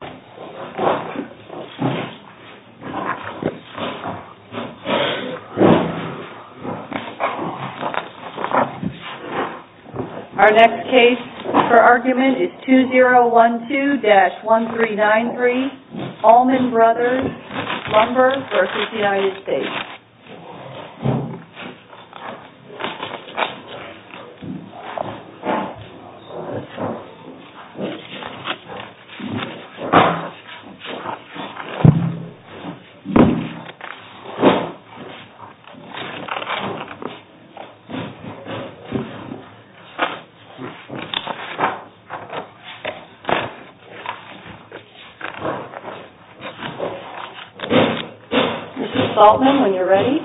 Our next case for argument is 2012-1393 ALMOND BROS. LUMBER v. United States Mrs. Altman, when you're ready.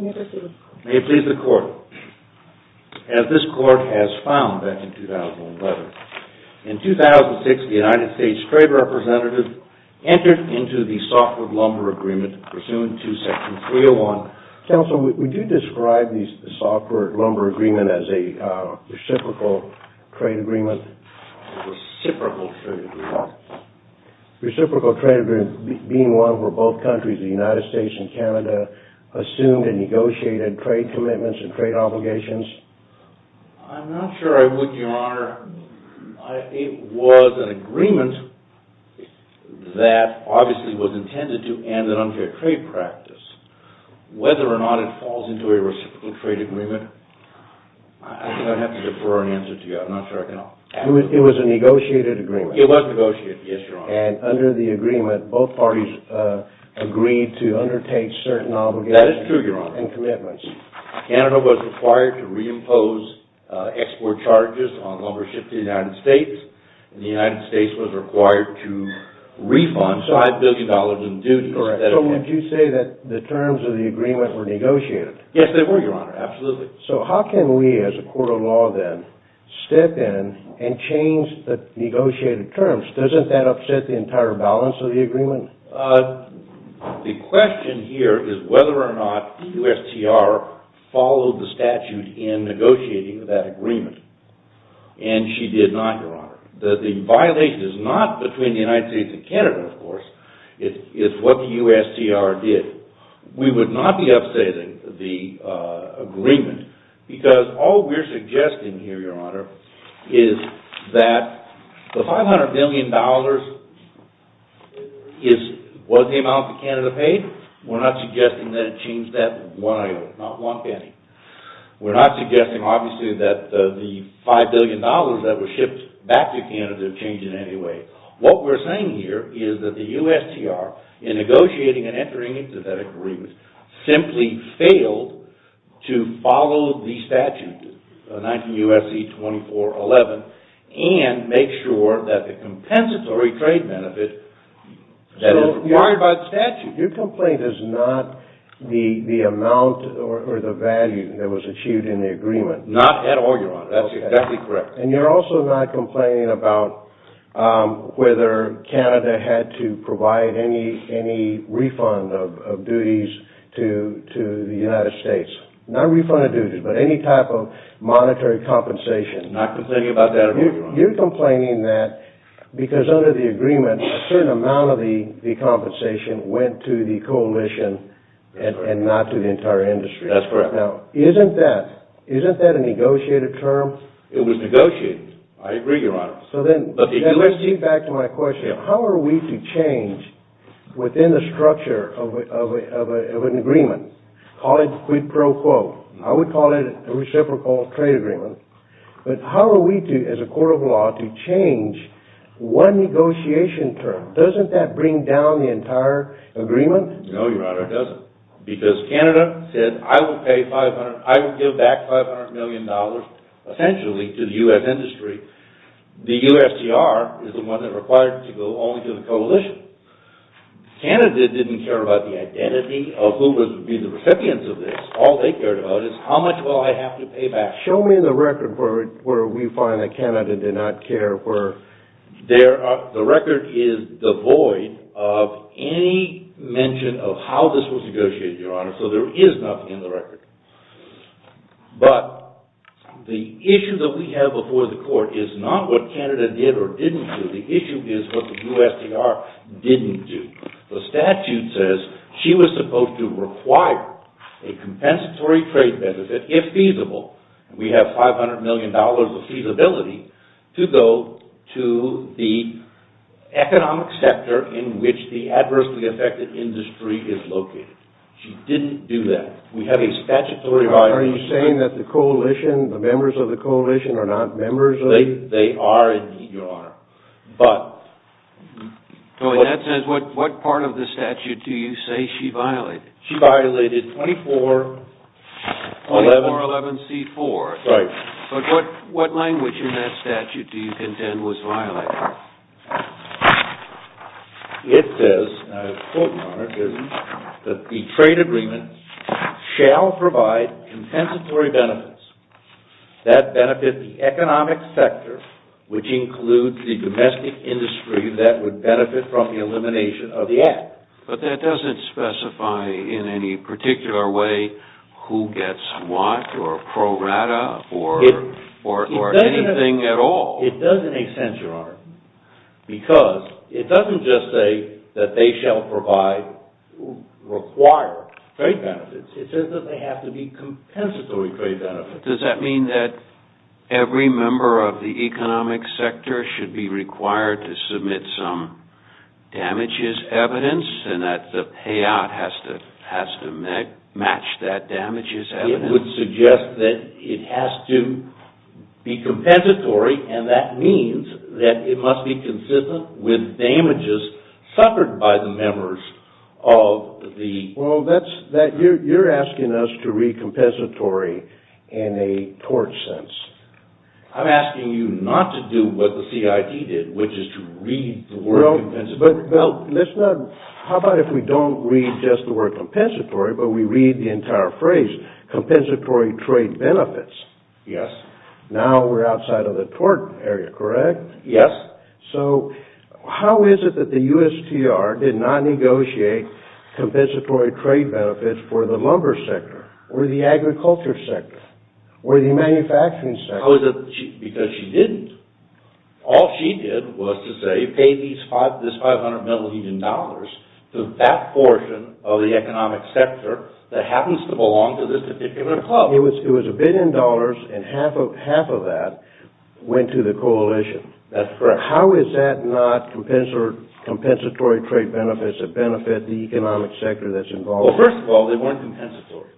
May it please the Court. As this Court has found back in 2011, in 2006 the United States Trade Representative entered into the softwood lumber agreement pursuant to Section 301. Counsel, would you describe the softwood lumber agreement as a reciprocal trade agreement? A reciprocal trade agreement. A reciprocal trade agreement being one where both countries, the United States and Canada, assumed and negotiated trade commitments and trade obligations? I'm not sure I would, Your Honor. Your Honor, it was an agreement that obviously was intended to end an unfair trade practice. Whether or not it falls into a reciprocal trade agreement, I'm going to have to defer an answer to you. I'm not sure I can answer. It was a negotiated agreement. It was negotiated, yes, Your Honor. And under the agreement, both parties agreed to undertake certain obligations and commitments. That is true, Your Honor. Canada was required to reimpose export charges on lumber shipped to the United States. And the United States was required to refund $5 billion in duties. Correct. So would you say that the terms of the agreement were negotiated? Yes, they were, Your Honor. Absolutely. So how can we, as a court of law then, step in and change the negotiated terms? Doesn't that upset the entire balance of the agreement? The question here is whether or not the USTR followed the statute in negotiating that agreement. And she did not, Your Honor. The violation is not between the United States and Canada, of course. It's what the USTR did. We would not be upsetting the agreement because all we're suggesting here, Your Honor, is that the $500 billion was the amount that Canada paid. We're not suggesting that it changed that one item, not one penny. We're not suggesting, obviously, that the $5 billion that was shipped back to Canada changed in any way. What we're saying here is that the USTR, in negotiating and entering into that agreement, simply failed to follow the statute, 19 U.S.C. 2411, and make sure that the compensatory trade benefit that is required by the statute. So your complaint is not the amount or the value that was achieved in the agreement. Not at all, Your Honor. That's exactly correct. And you're also not complaining about whether Canada had to provide any refund of duties to the United States. Not refund of duties, but any type of monetary compensation. Not complaining about that at all, Your Honor. You're complaining that because under the agreement, a certain amount of the compensation went to the coalition and not to the entire industry. That's correct. Now, isn't that a negotiated term? It was negotiated. I agree, Your Honor. So then, let's get back to my question. How are we to change within the structure of an agreement? Call it quid pro quo. I would call it a reciprocal trade agreement. But how are we to, as a court of law, to change one negotiation term? Doesn't that bring down the entire agreement? No, Your Honor, it doesn't. Because Canada said, I will give back $500 million, essentially, to the U.S. industry. The USTR is the one that required to go only to the coalition. Canada didn't care about the identity of who would be the recipients of this. All they cared about is how much will I have to pay back. Show me the record where we find that Canada did not care. The record is devoid of any mention of how this was negotiated, Your Honor. So there is nothing in the record. But the issue that we have before the court is not what Canada did or didn't do. The issue is what the USTR didn't do. The statute says she was supposed to require a compensatory trade benefit, if feasible. We have $500 million of feasibility to go to the economic sector in which the adversely affected industry is located. She didn't do that. We have a statutory violation. Are you saying that the coalition, the members of the coalition, are not members of it? They are, indeed, Your Honor. That says, what part of the statute do you say she violated? She violated 2411C4. Right. But what language in that statute do you contend was violated? It says, and I quote, Your Honor, it says, that the trade agreement shall provide compensatory benefits that benefit the economic sector, which includes the domestic industry that would benefit from the elimination of the act. But that doesn't specify in any particular way who gets what, or pro rata, or anything at all. It doesn't make sense, Your Honor, because it doesn't just say that they shall require trade benefits. It says that they have to be compensatory trade benefits. Does that mean that every member of the economic sector should be required to submit some damages evidence, and that the payout has to match that damages evidence? It would suggest that it has to be compensatory, and that means that it must be consistent with damages suffered by the members of the- Well, you're asking us to read compensatory in a tort sense. I'm asking you not to do what the CID did, which is to read the word compensatory. How about if we don't read just the word compensatory, but we read the entire phrase, compensatory trade benefits? Yes. Now we're outside of the tort area, correct? Yes. So how is it that the USTR did not negotiate compensatory trade benefits for the lumber sector, or the agriculture sector, or the manufacturing sector? Because she didn't. All she did was to say, pay this $500 million to that portion of the economic sector that happens to belong to this particular club. It was a billion dollars, and half of that went to the coalition. That's correct. How is that not compensatory trade benefits that benefit the economic sector that's involved? Well, first of all, they weren't compensatory.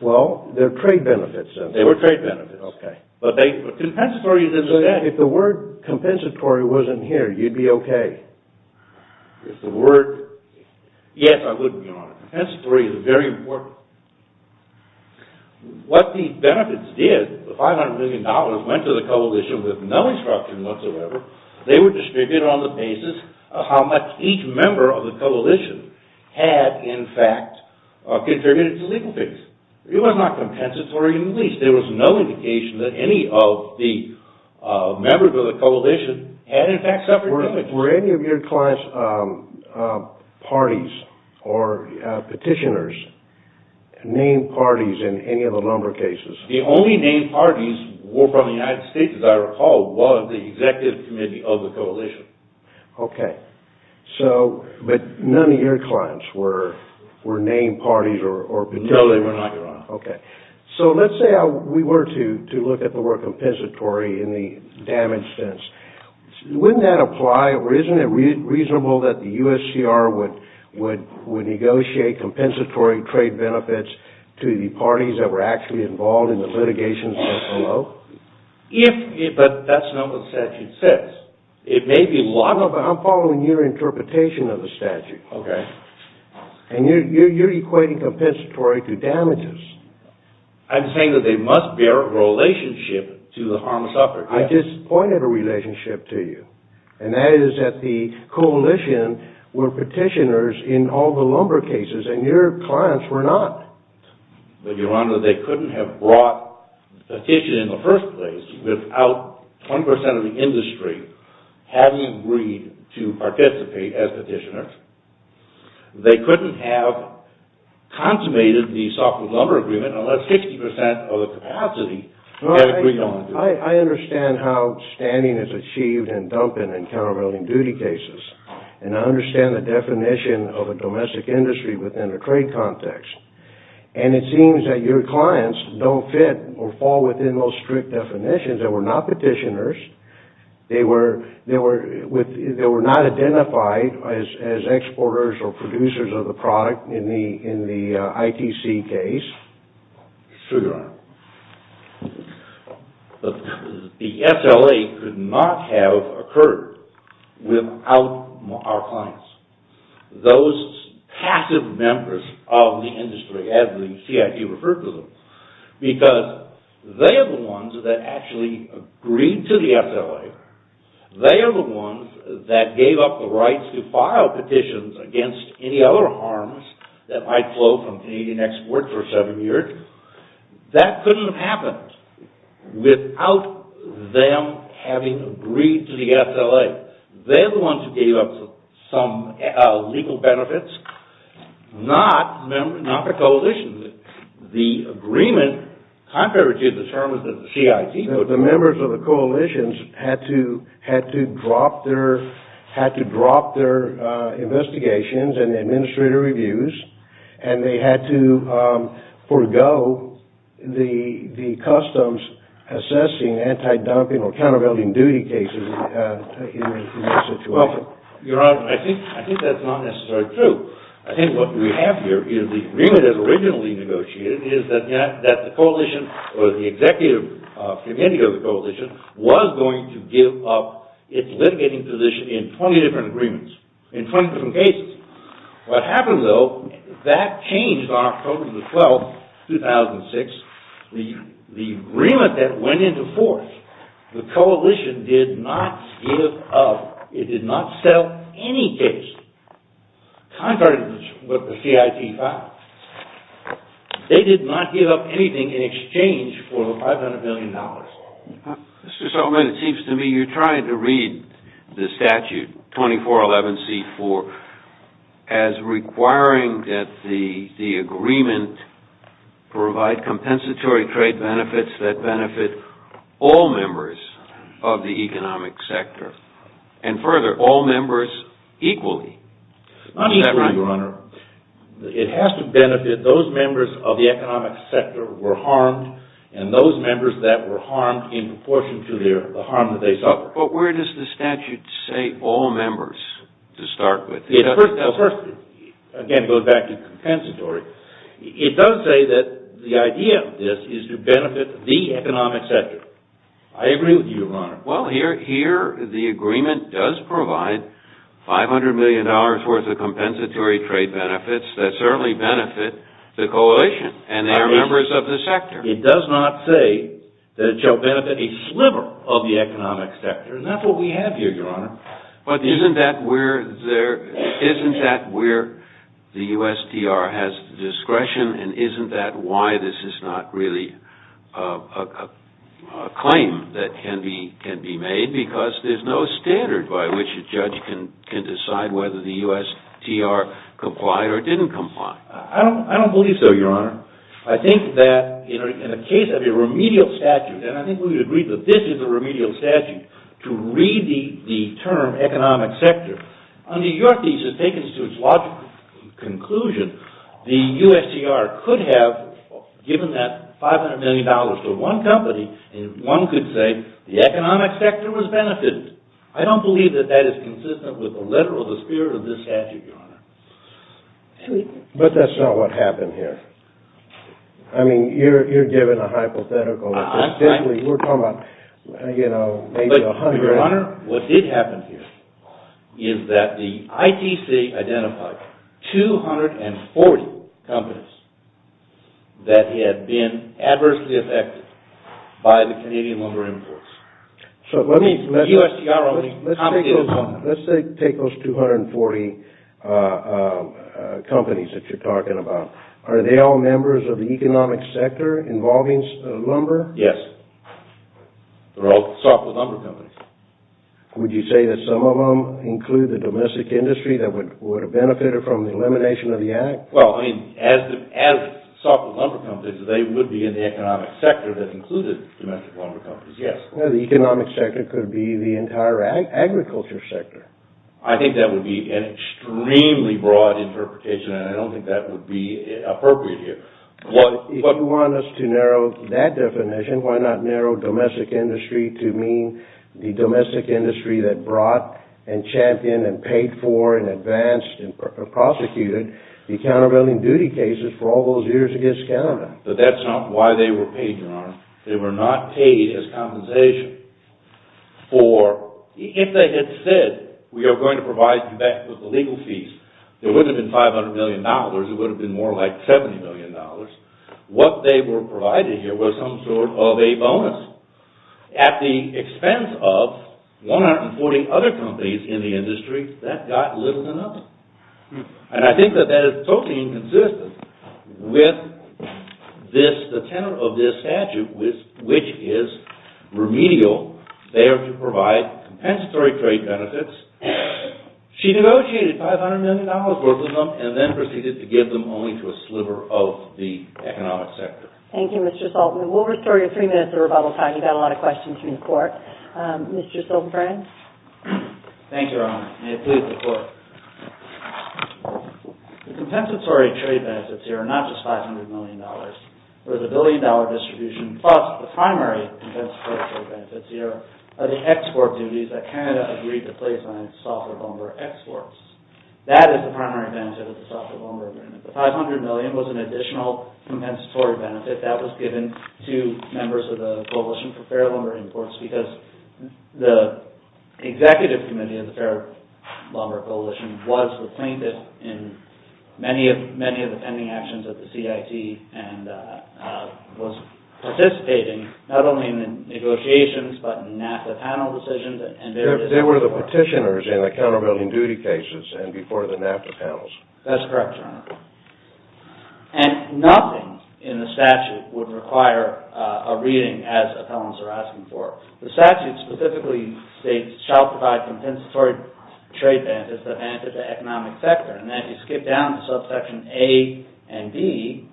Well, they're trade benefits, then. They were trade benefits. Okay. But compensatory is instead- If the word compensatory wasn't here, you'd be okay. If the word- Yes, I would be. Compensatory is very important. What the benefits did, the $500 million went to the coalition with no instruction whatsoever. They were distributed on the basis of how much each member of the coalition had, in fact, contributed to legal things. It was not compensatory in the least. There was no indication that any of the members of the coalition had, in fact, suffered damage. Were any of your clients' parties or petitioners named parties in any of the lumber cases? The only named parties were from the United States, as I recall, was the executive committee of the coalition. Okay. But none of your clients were named parties or petitioners? No, they were not, Your Honor. Okay. Let's say we were to look at the word compensatory in the damage sense. Wouldn't that apply, or isn't it reasonable that the U.S.C.R. would negotiate compensatory trade benefits to the parties that were actually involved in the litigation below? If- But that's not what the statute says. It may be- No, but I'm following your interpretation of the statute. Okay. And you're equating compensatory to damages. I'm saying that they must bear a relationship to the harm suffered. I just pointed a relationship to you, and that is that the coalition were petitioners in all the lumber cases, and your clients were not. But, Your Honor, they couldn't have brought a petition in the first place without 20 percent of the industry having agreed to participate as petitioners. They couldn't have consummated the softwood lumber agreement unless 60 percent of the capacity had agreed on it. I understand how standing is achieved in dumping and countermeasuring duty cases, and I understand the definition of a domestic industry within a trade context. And it seems that your clients don't fit or fall within those strict definitions. They were not petitioners. They were not identified as exporters or producers of the product in the ITC case. It's true, Your Honor. The SLA could not have occurred without our clients, those passive members of the industry, as the CIT referred to them, because they are the ones that actually agreed to the SLA. They are the ones that gave up the rights to file petitions against any other harms that might flow from Canadian exports for seven years. That couldn't have happened without them having agreed to the SLA. They're the ones who gave up some legal benefits, not the coalitions. The agreement, compared to the terms of the CIT... The members of the coalitions had to drop their investigations and administrative reviews, and they had to forego the customs assessing anti-dumping or countermeasuring duty cases in that situation. Your Honor, I think that's not necessarily true. I think what we have here is the agreement as originally negotiated is that the coalition or the executive committee of the coalition was going to give up its litigating position in 20 different agreements, in 20 different cases. What happened, though, that changed on October the 12th, 2006. The agreement that went into force, the coalition did not give up. It did not settle any case. Contrary to what the CIT found, they did not give up anything in exchange for the $500 million. Mr. Solomon, it seems to me you're trying to read the statute, 2411C4, as requiring that the agreement provide compensatory trade benefits that benefit all members of the economic sector, and further, all members equally. Not equally, Your Honor. It has to benefit those members of the economic sector who were harmed, and those members that were harmed in proportion to the harm that they suffered. But where does the statute say all members to start with? First, again, going back to compensatory, it does say that the idea of this is to benefit the economic sector. I agree with you, Your Honor. Well, here the agreement does provide $500 million worth of compensatory trade benefits that certainly benefit the coalition and their members of the sector. It does not say that it shall benefit a sliver of the economic sector, and that's what we have here, Your Honor. But isn't that where the USTR has discretion, and isn't that why this is not really a claim that can be made? Because there's no standard by which a judge can decide whether the USTR complied or didn't comply. I don't believe so, Your Honor. I think that in a case of a remedial statute, and I think we would agree that this is a remedial statute, to read the term economic sector, under your thesis, taken to its logical conclusion, the USTR could have given that $500 million to one company, and one could say the economic sector was benefited. I don't believe that that is consistent with the letter or the spirit of this statute, Your Honor. But that's not what happened here. I mean, you're giving a hypothetical. We're talking about, you know, maybe a hundred. Your Honor, what did happen here is that the ITC identified 240 companies that had been adversely affected by the Canadian Lumber Imports. So let me, let's take those 240 companies that you're talking about. Are they all members of the economic sector involving lumber? Yes. They're all softwood lumber companies. Would you say that some of them include the domestic industry that would have benefited from the elimination of the Act? Well, I mean, as softwood lumber companies, they would be in the economic sector that included domestic lumber companies, yes. Well, the economic sector could be the entire agriculture sector. I think that would be an extremely broad interpretation, and I don't think that would be appropriate here. Well, if you want us to narrow that definition, why not narrow domestic industry to mean the domestic industry that brought and championed and paid for and advanced and prosecuted the countervailing duty cases for all those years against Canada? But that's not why they were paid, Your Honor. They were not paid as compensation. For, if they had said, we are going to provide you back with the legal fees, there wouldn't have been $500 million. It would have been more like $70 million. What they were providing here was some sort of a bonus. At the expense of 140 other companies in the industry, that got little than enough. And I think that that is totally inconsistent with the tenor of this statute, which is remedial. They are to provide compensatory trade benefits. She negotiated $500 million worth of them and then proceeded to give them only to a sliver of the economic sector. Thank you, Mr. Saltzman. We'll restore you three minutes of rebuttal time. You've got a lot of questions from the Court. Mr. Silverbrand? Thank you, Your Honor. May it please the Court. The compensatory trade benefits here are not just $500 million. It was a billion-dollar distribution. Plus, the primary compensatory trade benefits here are the export duties that Canada agreed to place on its software lumber exports. That is the primary benefit of the software lumber agreement. The $500 million was an additional compensatory benefit that was given to members of the Coalition for Fair Lumber Imports because the Executive Committee of the Fair Lumber Coalition was the plaintiff in many of the pending actions of the CIT and was participating not only in the negotiations but in NAFTA panel decisions. They were the petitioners in the countervailing duty cases and before the NAFTA panels. That's correct, Your Honor. And nothing in the statute would require a reading as appellants are asking for. The statute specifically states, shall provide compensatory trade benefits that benefit the economic sector. And that you skip down to subsection A and B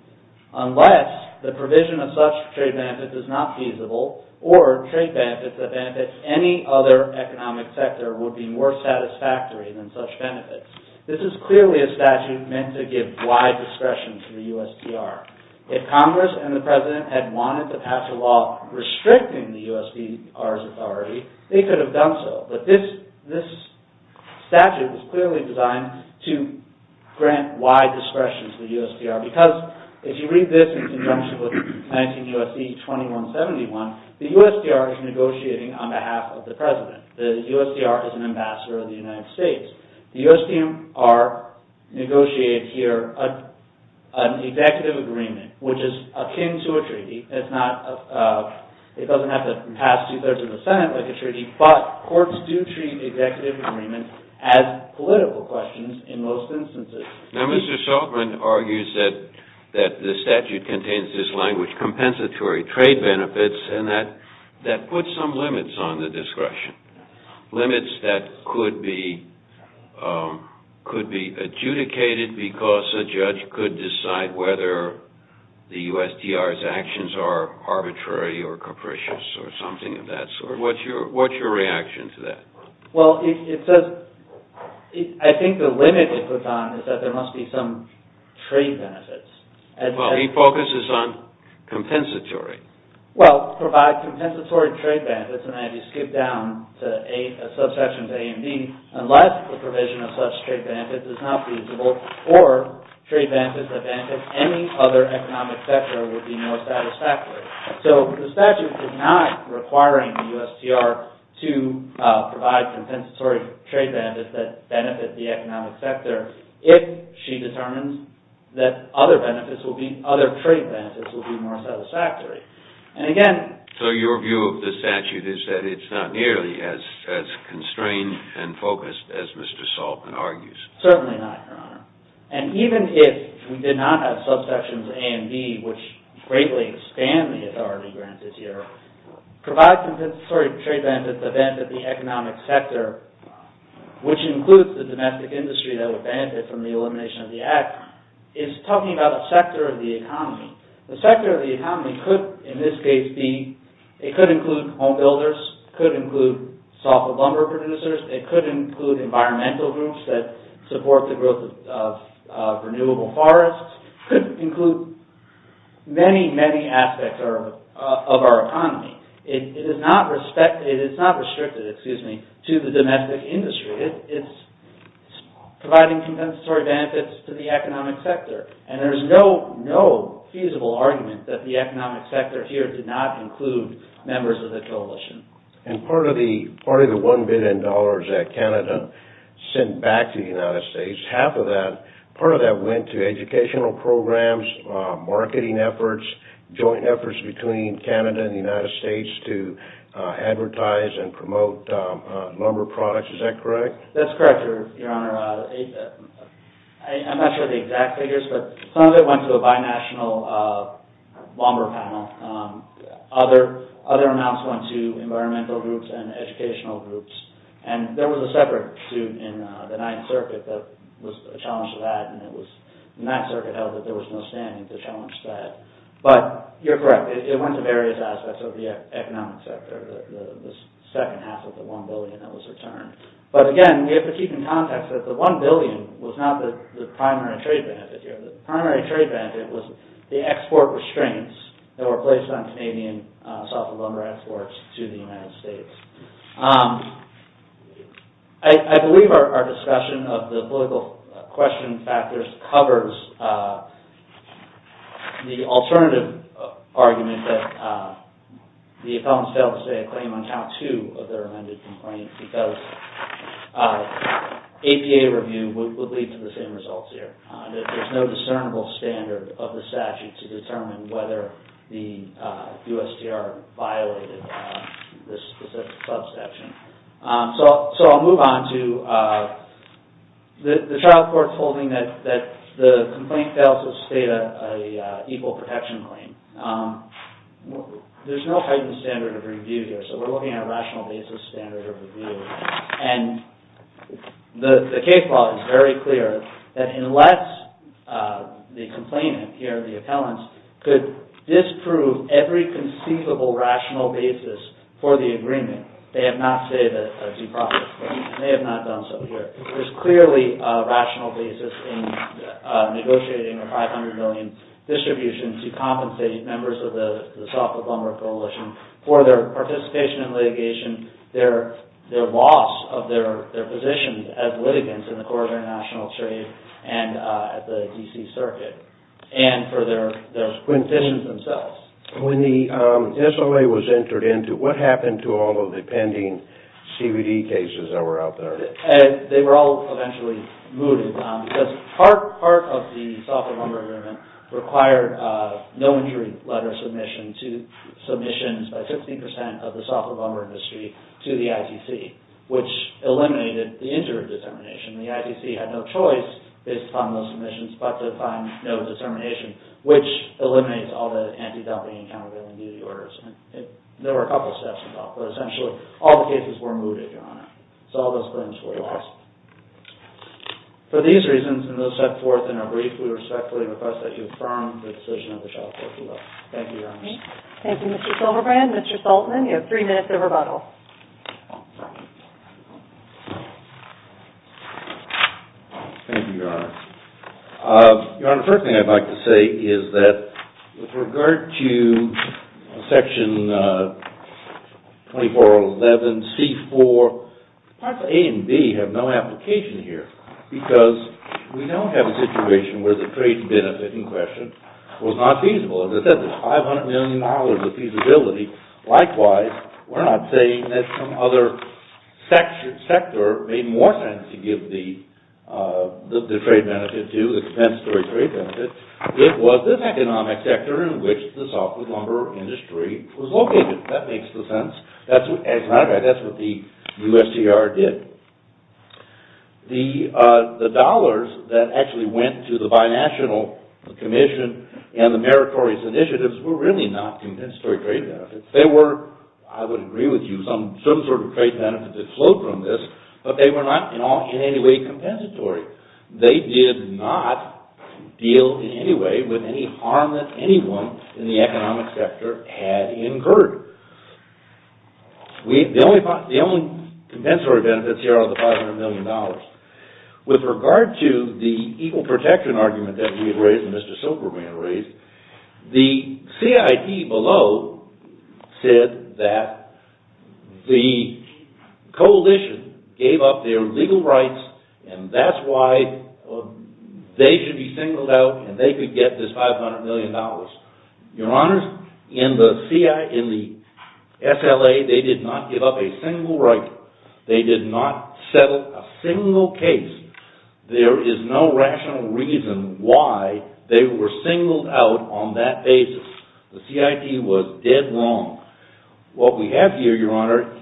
unless the provision of such trade benefits is not feasible or trade benefits that benefit any other economic sector would be more satisfactory than such benefits. This is clearly a statute meant to give wide discretion to the USDR. If Congress and the President had wanted to pass a law restricting the USDR's authority, they could have done so. But this statute is clearly designed to grant wide discretion to the USDR because if you read this in conjunction with 19 U.S.C. 2171, the USDR is negotiating on behalf of the President. The USDR is an ambassador of the United States. The USDR negotiated here an executive agreement, which is akin to a treaty. It doesn't have to pass two-thirds of the Senate like a treaty, but courts do treat executive agreements as political questions in most instances. Now, Mr. Shultzman argues that the statute contains this language, compensatory trade benefits, and that puts some limits on the discretion, limits that could be adjudicated because a judge could decide whether the USDR's actions are arbitrary or capricious or something of that sort. What's your reaction to that? Well, I think the limit it puts on is that there must be some trade benefits. Well, he focuses on compensatory. Well, provide compensatory trade benefits, and I had you skip down to a subsection of A and B, unless the provision of such trade benefits is not feasible or trade benefits that benefit any other economic sector would be more satisfactory. So the statute is not requiring the USDR to provide compensatory trade benefits that benefit the economic sector if she determines that other trade benefits will be more satisfactory. So your view of the statute is that it's not nearly as constrained and focused as Mr. Shultzman argues? Certainly not, Your Honor. And even if we did not have subsections A and B, which greatly expand the authority granted here, provide compensatory trade benefits that benefit the economic sector, which includes the domestic industry that would benefit from the elimination of the Act, is talking about a sector of the economy. The sector of the economy could, in this case, include home builders, could include softwood lumber producers, it could include environmental groups that support the growth of renewable forests, it could include many, many aspects of our economy. It is not restricted to the domestic industry. It's providing compensatory benefits to the economic sector. And there's no feasible argument that the economic sector here did not include members of the coalition. And part of the $1 billion that Canada sent back to the United States, half of that, part of that went to educational programs, marketing efforts, joint efforts between Canada and the United States to advertise and promote lumber products. Is that correct? That's correct, Your Honor. I'm not sure of the exact figures, but some of it went to a binational lumber panel. Other amounts went to environmental groups and educational groups. And there was a separate suit in the Ninth Circuit that was a challenge to that, and the Ninth Circuit held that there was no standing to challenge that. But you're correct, it went to various aspects of the economic sector, the second half of the $1 billion that was returned. But again, we have to keep in context that the $1 billion was not the primary trade benefit here. The primary trade benefit was the export restraints that were placed on Canadian softwood lumber exports to the United States. I believe our discussion of the political question factors covers the alternative argument that the appellants failed to say a claim on Count 2 of their amended complaint, because APA review would lead to the same results here. There's no discernible standard of the statute to determine whether the USTR violated this specific subsection. So I'll move on to the trial court holding that the complaint fails to state an equal protection claim. There's no heightened standard of review here, so we're looking at a rational basis standard of review. And the case law is very clear that unless the complainant here, the appellants, could disprove every conceivable rational basis for the agreement, they have not stated a due process claim, and they have not done so here. There's clearly a rational basis in negotiating a $500 million distribution to compensate members of the softwood lumber coalition for their participation in litigation, their loss of their positions as litigants in the Corrigan National Trade and at the D.C. Circuit, and for their quintessence themselves. When the SLA was entered into, what happened to all of the pending CBD cases that were out there? They were all eventually moved and found, because part of the softwood lumber agreement required no injury letter submissions by 15% of the softwood lumber industry to the ITC, which eliminated the interim determination. The ITC had no choice, based upon those submissions, but to find no determination, which eliminates all the anti-dumping and countervailing duty orders. There were a couple of steps involved, but essentially all the cases were moved, Your Honor. So all those claims were lost. For these reasons, and those set forth in our brief, we respectfully request that you affirm the decision of the Shelforce Law. Thank you, Your Honor. Thank you, Mr. Silverbrand. Mr. Saltman, you have three minutes of rebuttal. Thank you, Your Honor. Your Honor, the first thing I'd like to say is that with regard to Section 2411C4, Parts A and B have no application here, because we now have a situation where the trade benefit in question was not feasible. As I said, there's $500 million of feasibility. Likewise, we're not saying that some other sector made more sense to give the trade benefit to, expense to a trade benefit. It was this economic sector in which the softwood lumber industry was located. That makes the sense. That's what the USTR did. The dollars that actually went to the binational commission and the meritorious initiatives were really not compensatory trade benefits. They were, I would agree with you, some sort of trade benefit that flowed from this, but they were not in any way compensatory. They did not deal in any way with any harm that anyone in the economic sector had incurred. The only compensatory benefits here are the $500 million. With regard to the equal protection argument that we had raised and Mr. Silberman raised, the CIT below said that the coalition gave up their legal rights, and that's why they should be singled out and they could get this $500 million. Your Honors, in the SLA, they did not give up a single right. They did not settle a single case. There is no rational reason why they were singled out on that basis. The CIT was dead wrong. What we have here, Your Honor,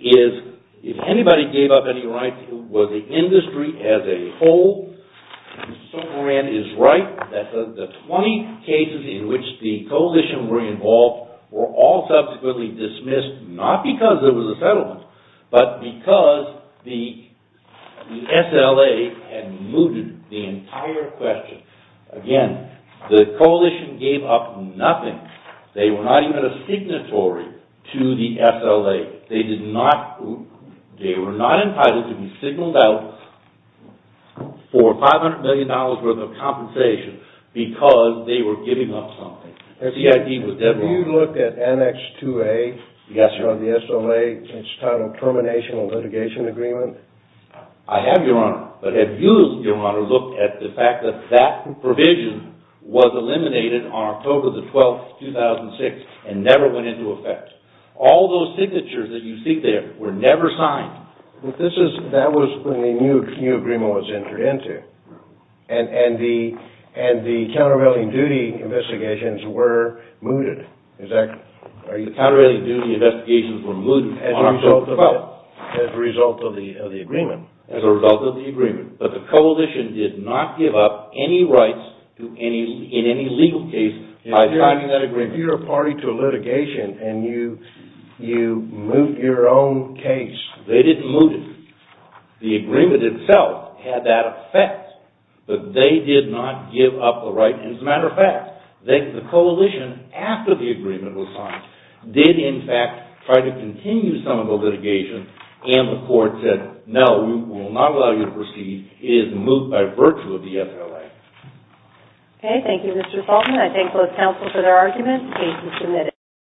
is if anybody gave up any rights, it was the industry as a whole. Mr. Silberman is right. The 20 cases in which the coalition were involved were all subsequently dismissed, not because it was a settlement, but because the SLA had mooted the entire question. Again, the coalition gave up nothing. They were not even a signatory to the SLA. They were not entitled to be signaled out for $500 million worth of compensation because they were giving up something. The CIT was dead wrong. Have you looked at NX2A? Yes, Your Honor. On the SLA, it's titled Termination of Litigation Agreement. I have, Your Honor. But have you, Your Honor, looked at the fact that that provision was eliminated on October 12, 2006 and never went into effect? All those signatures that you see there were never signed. That was when the new agreement was entered into. And the countervailing duty investigations were mooted. The countervailing duty investigations were mooted on October 12. As a result of the agreement. As a result of the agreement. But the coalition did not give up any rights in any legal case by signing that agreement. But if you're a party to a litigation and you moot your own case. They didn't moot it. The agreement itself had that effect. But they did not give up the right. As a matter of fact, the coalition, after the agreement was signed, did in fact try to continue some of the litigation. And the court said, no, we will not allow you to proceed. It is moot by virtue of the SLA. Okay, thank you, Mr. Salton. I think it was helpful for the argument. Thank you for submitting.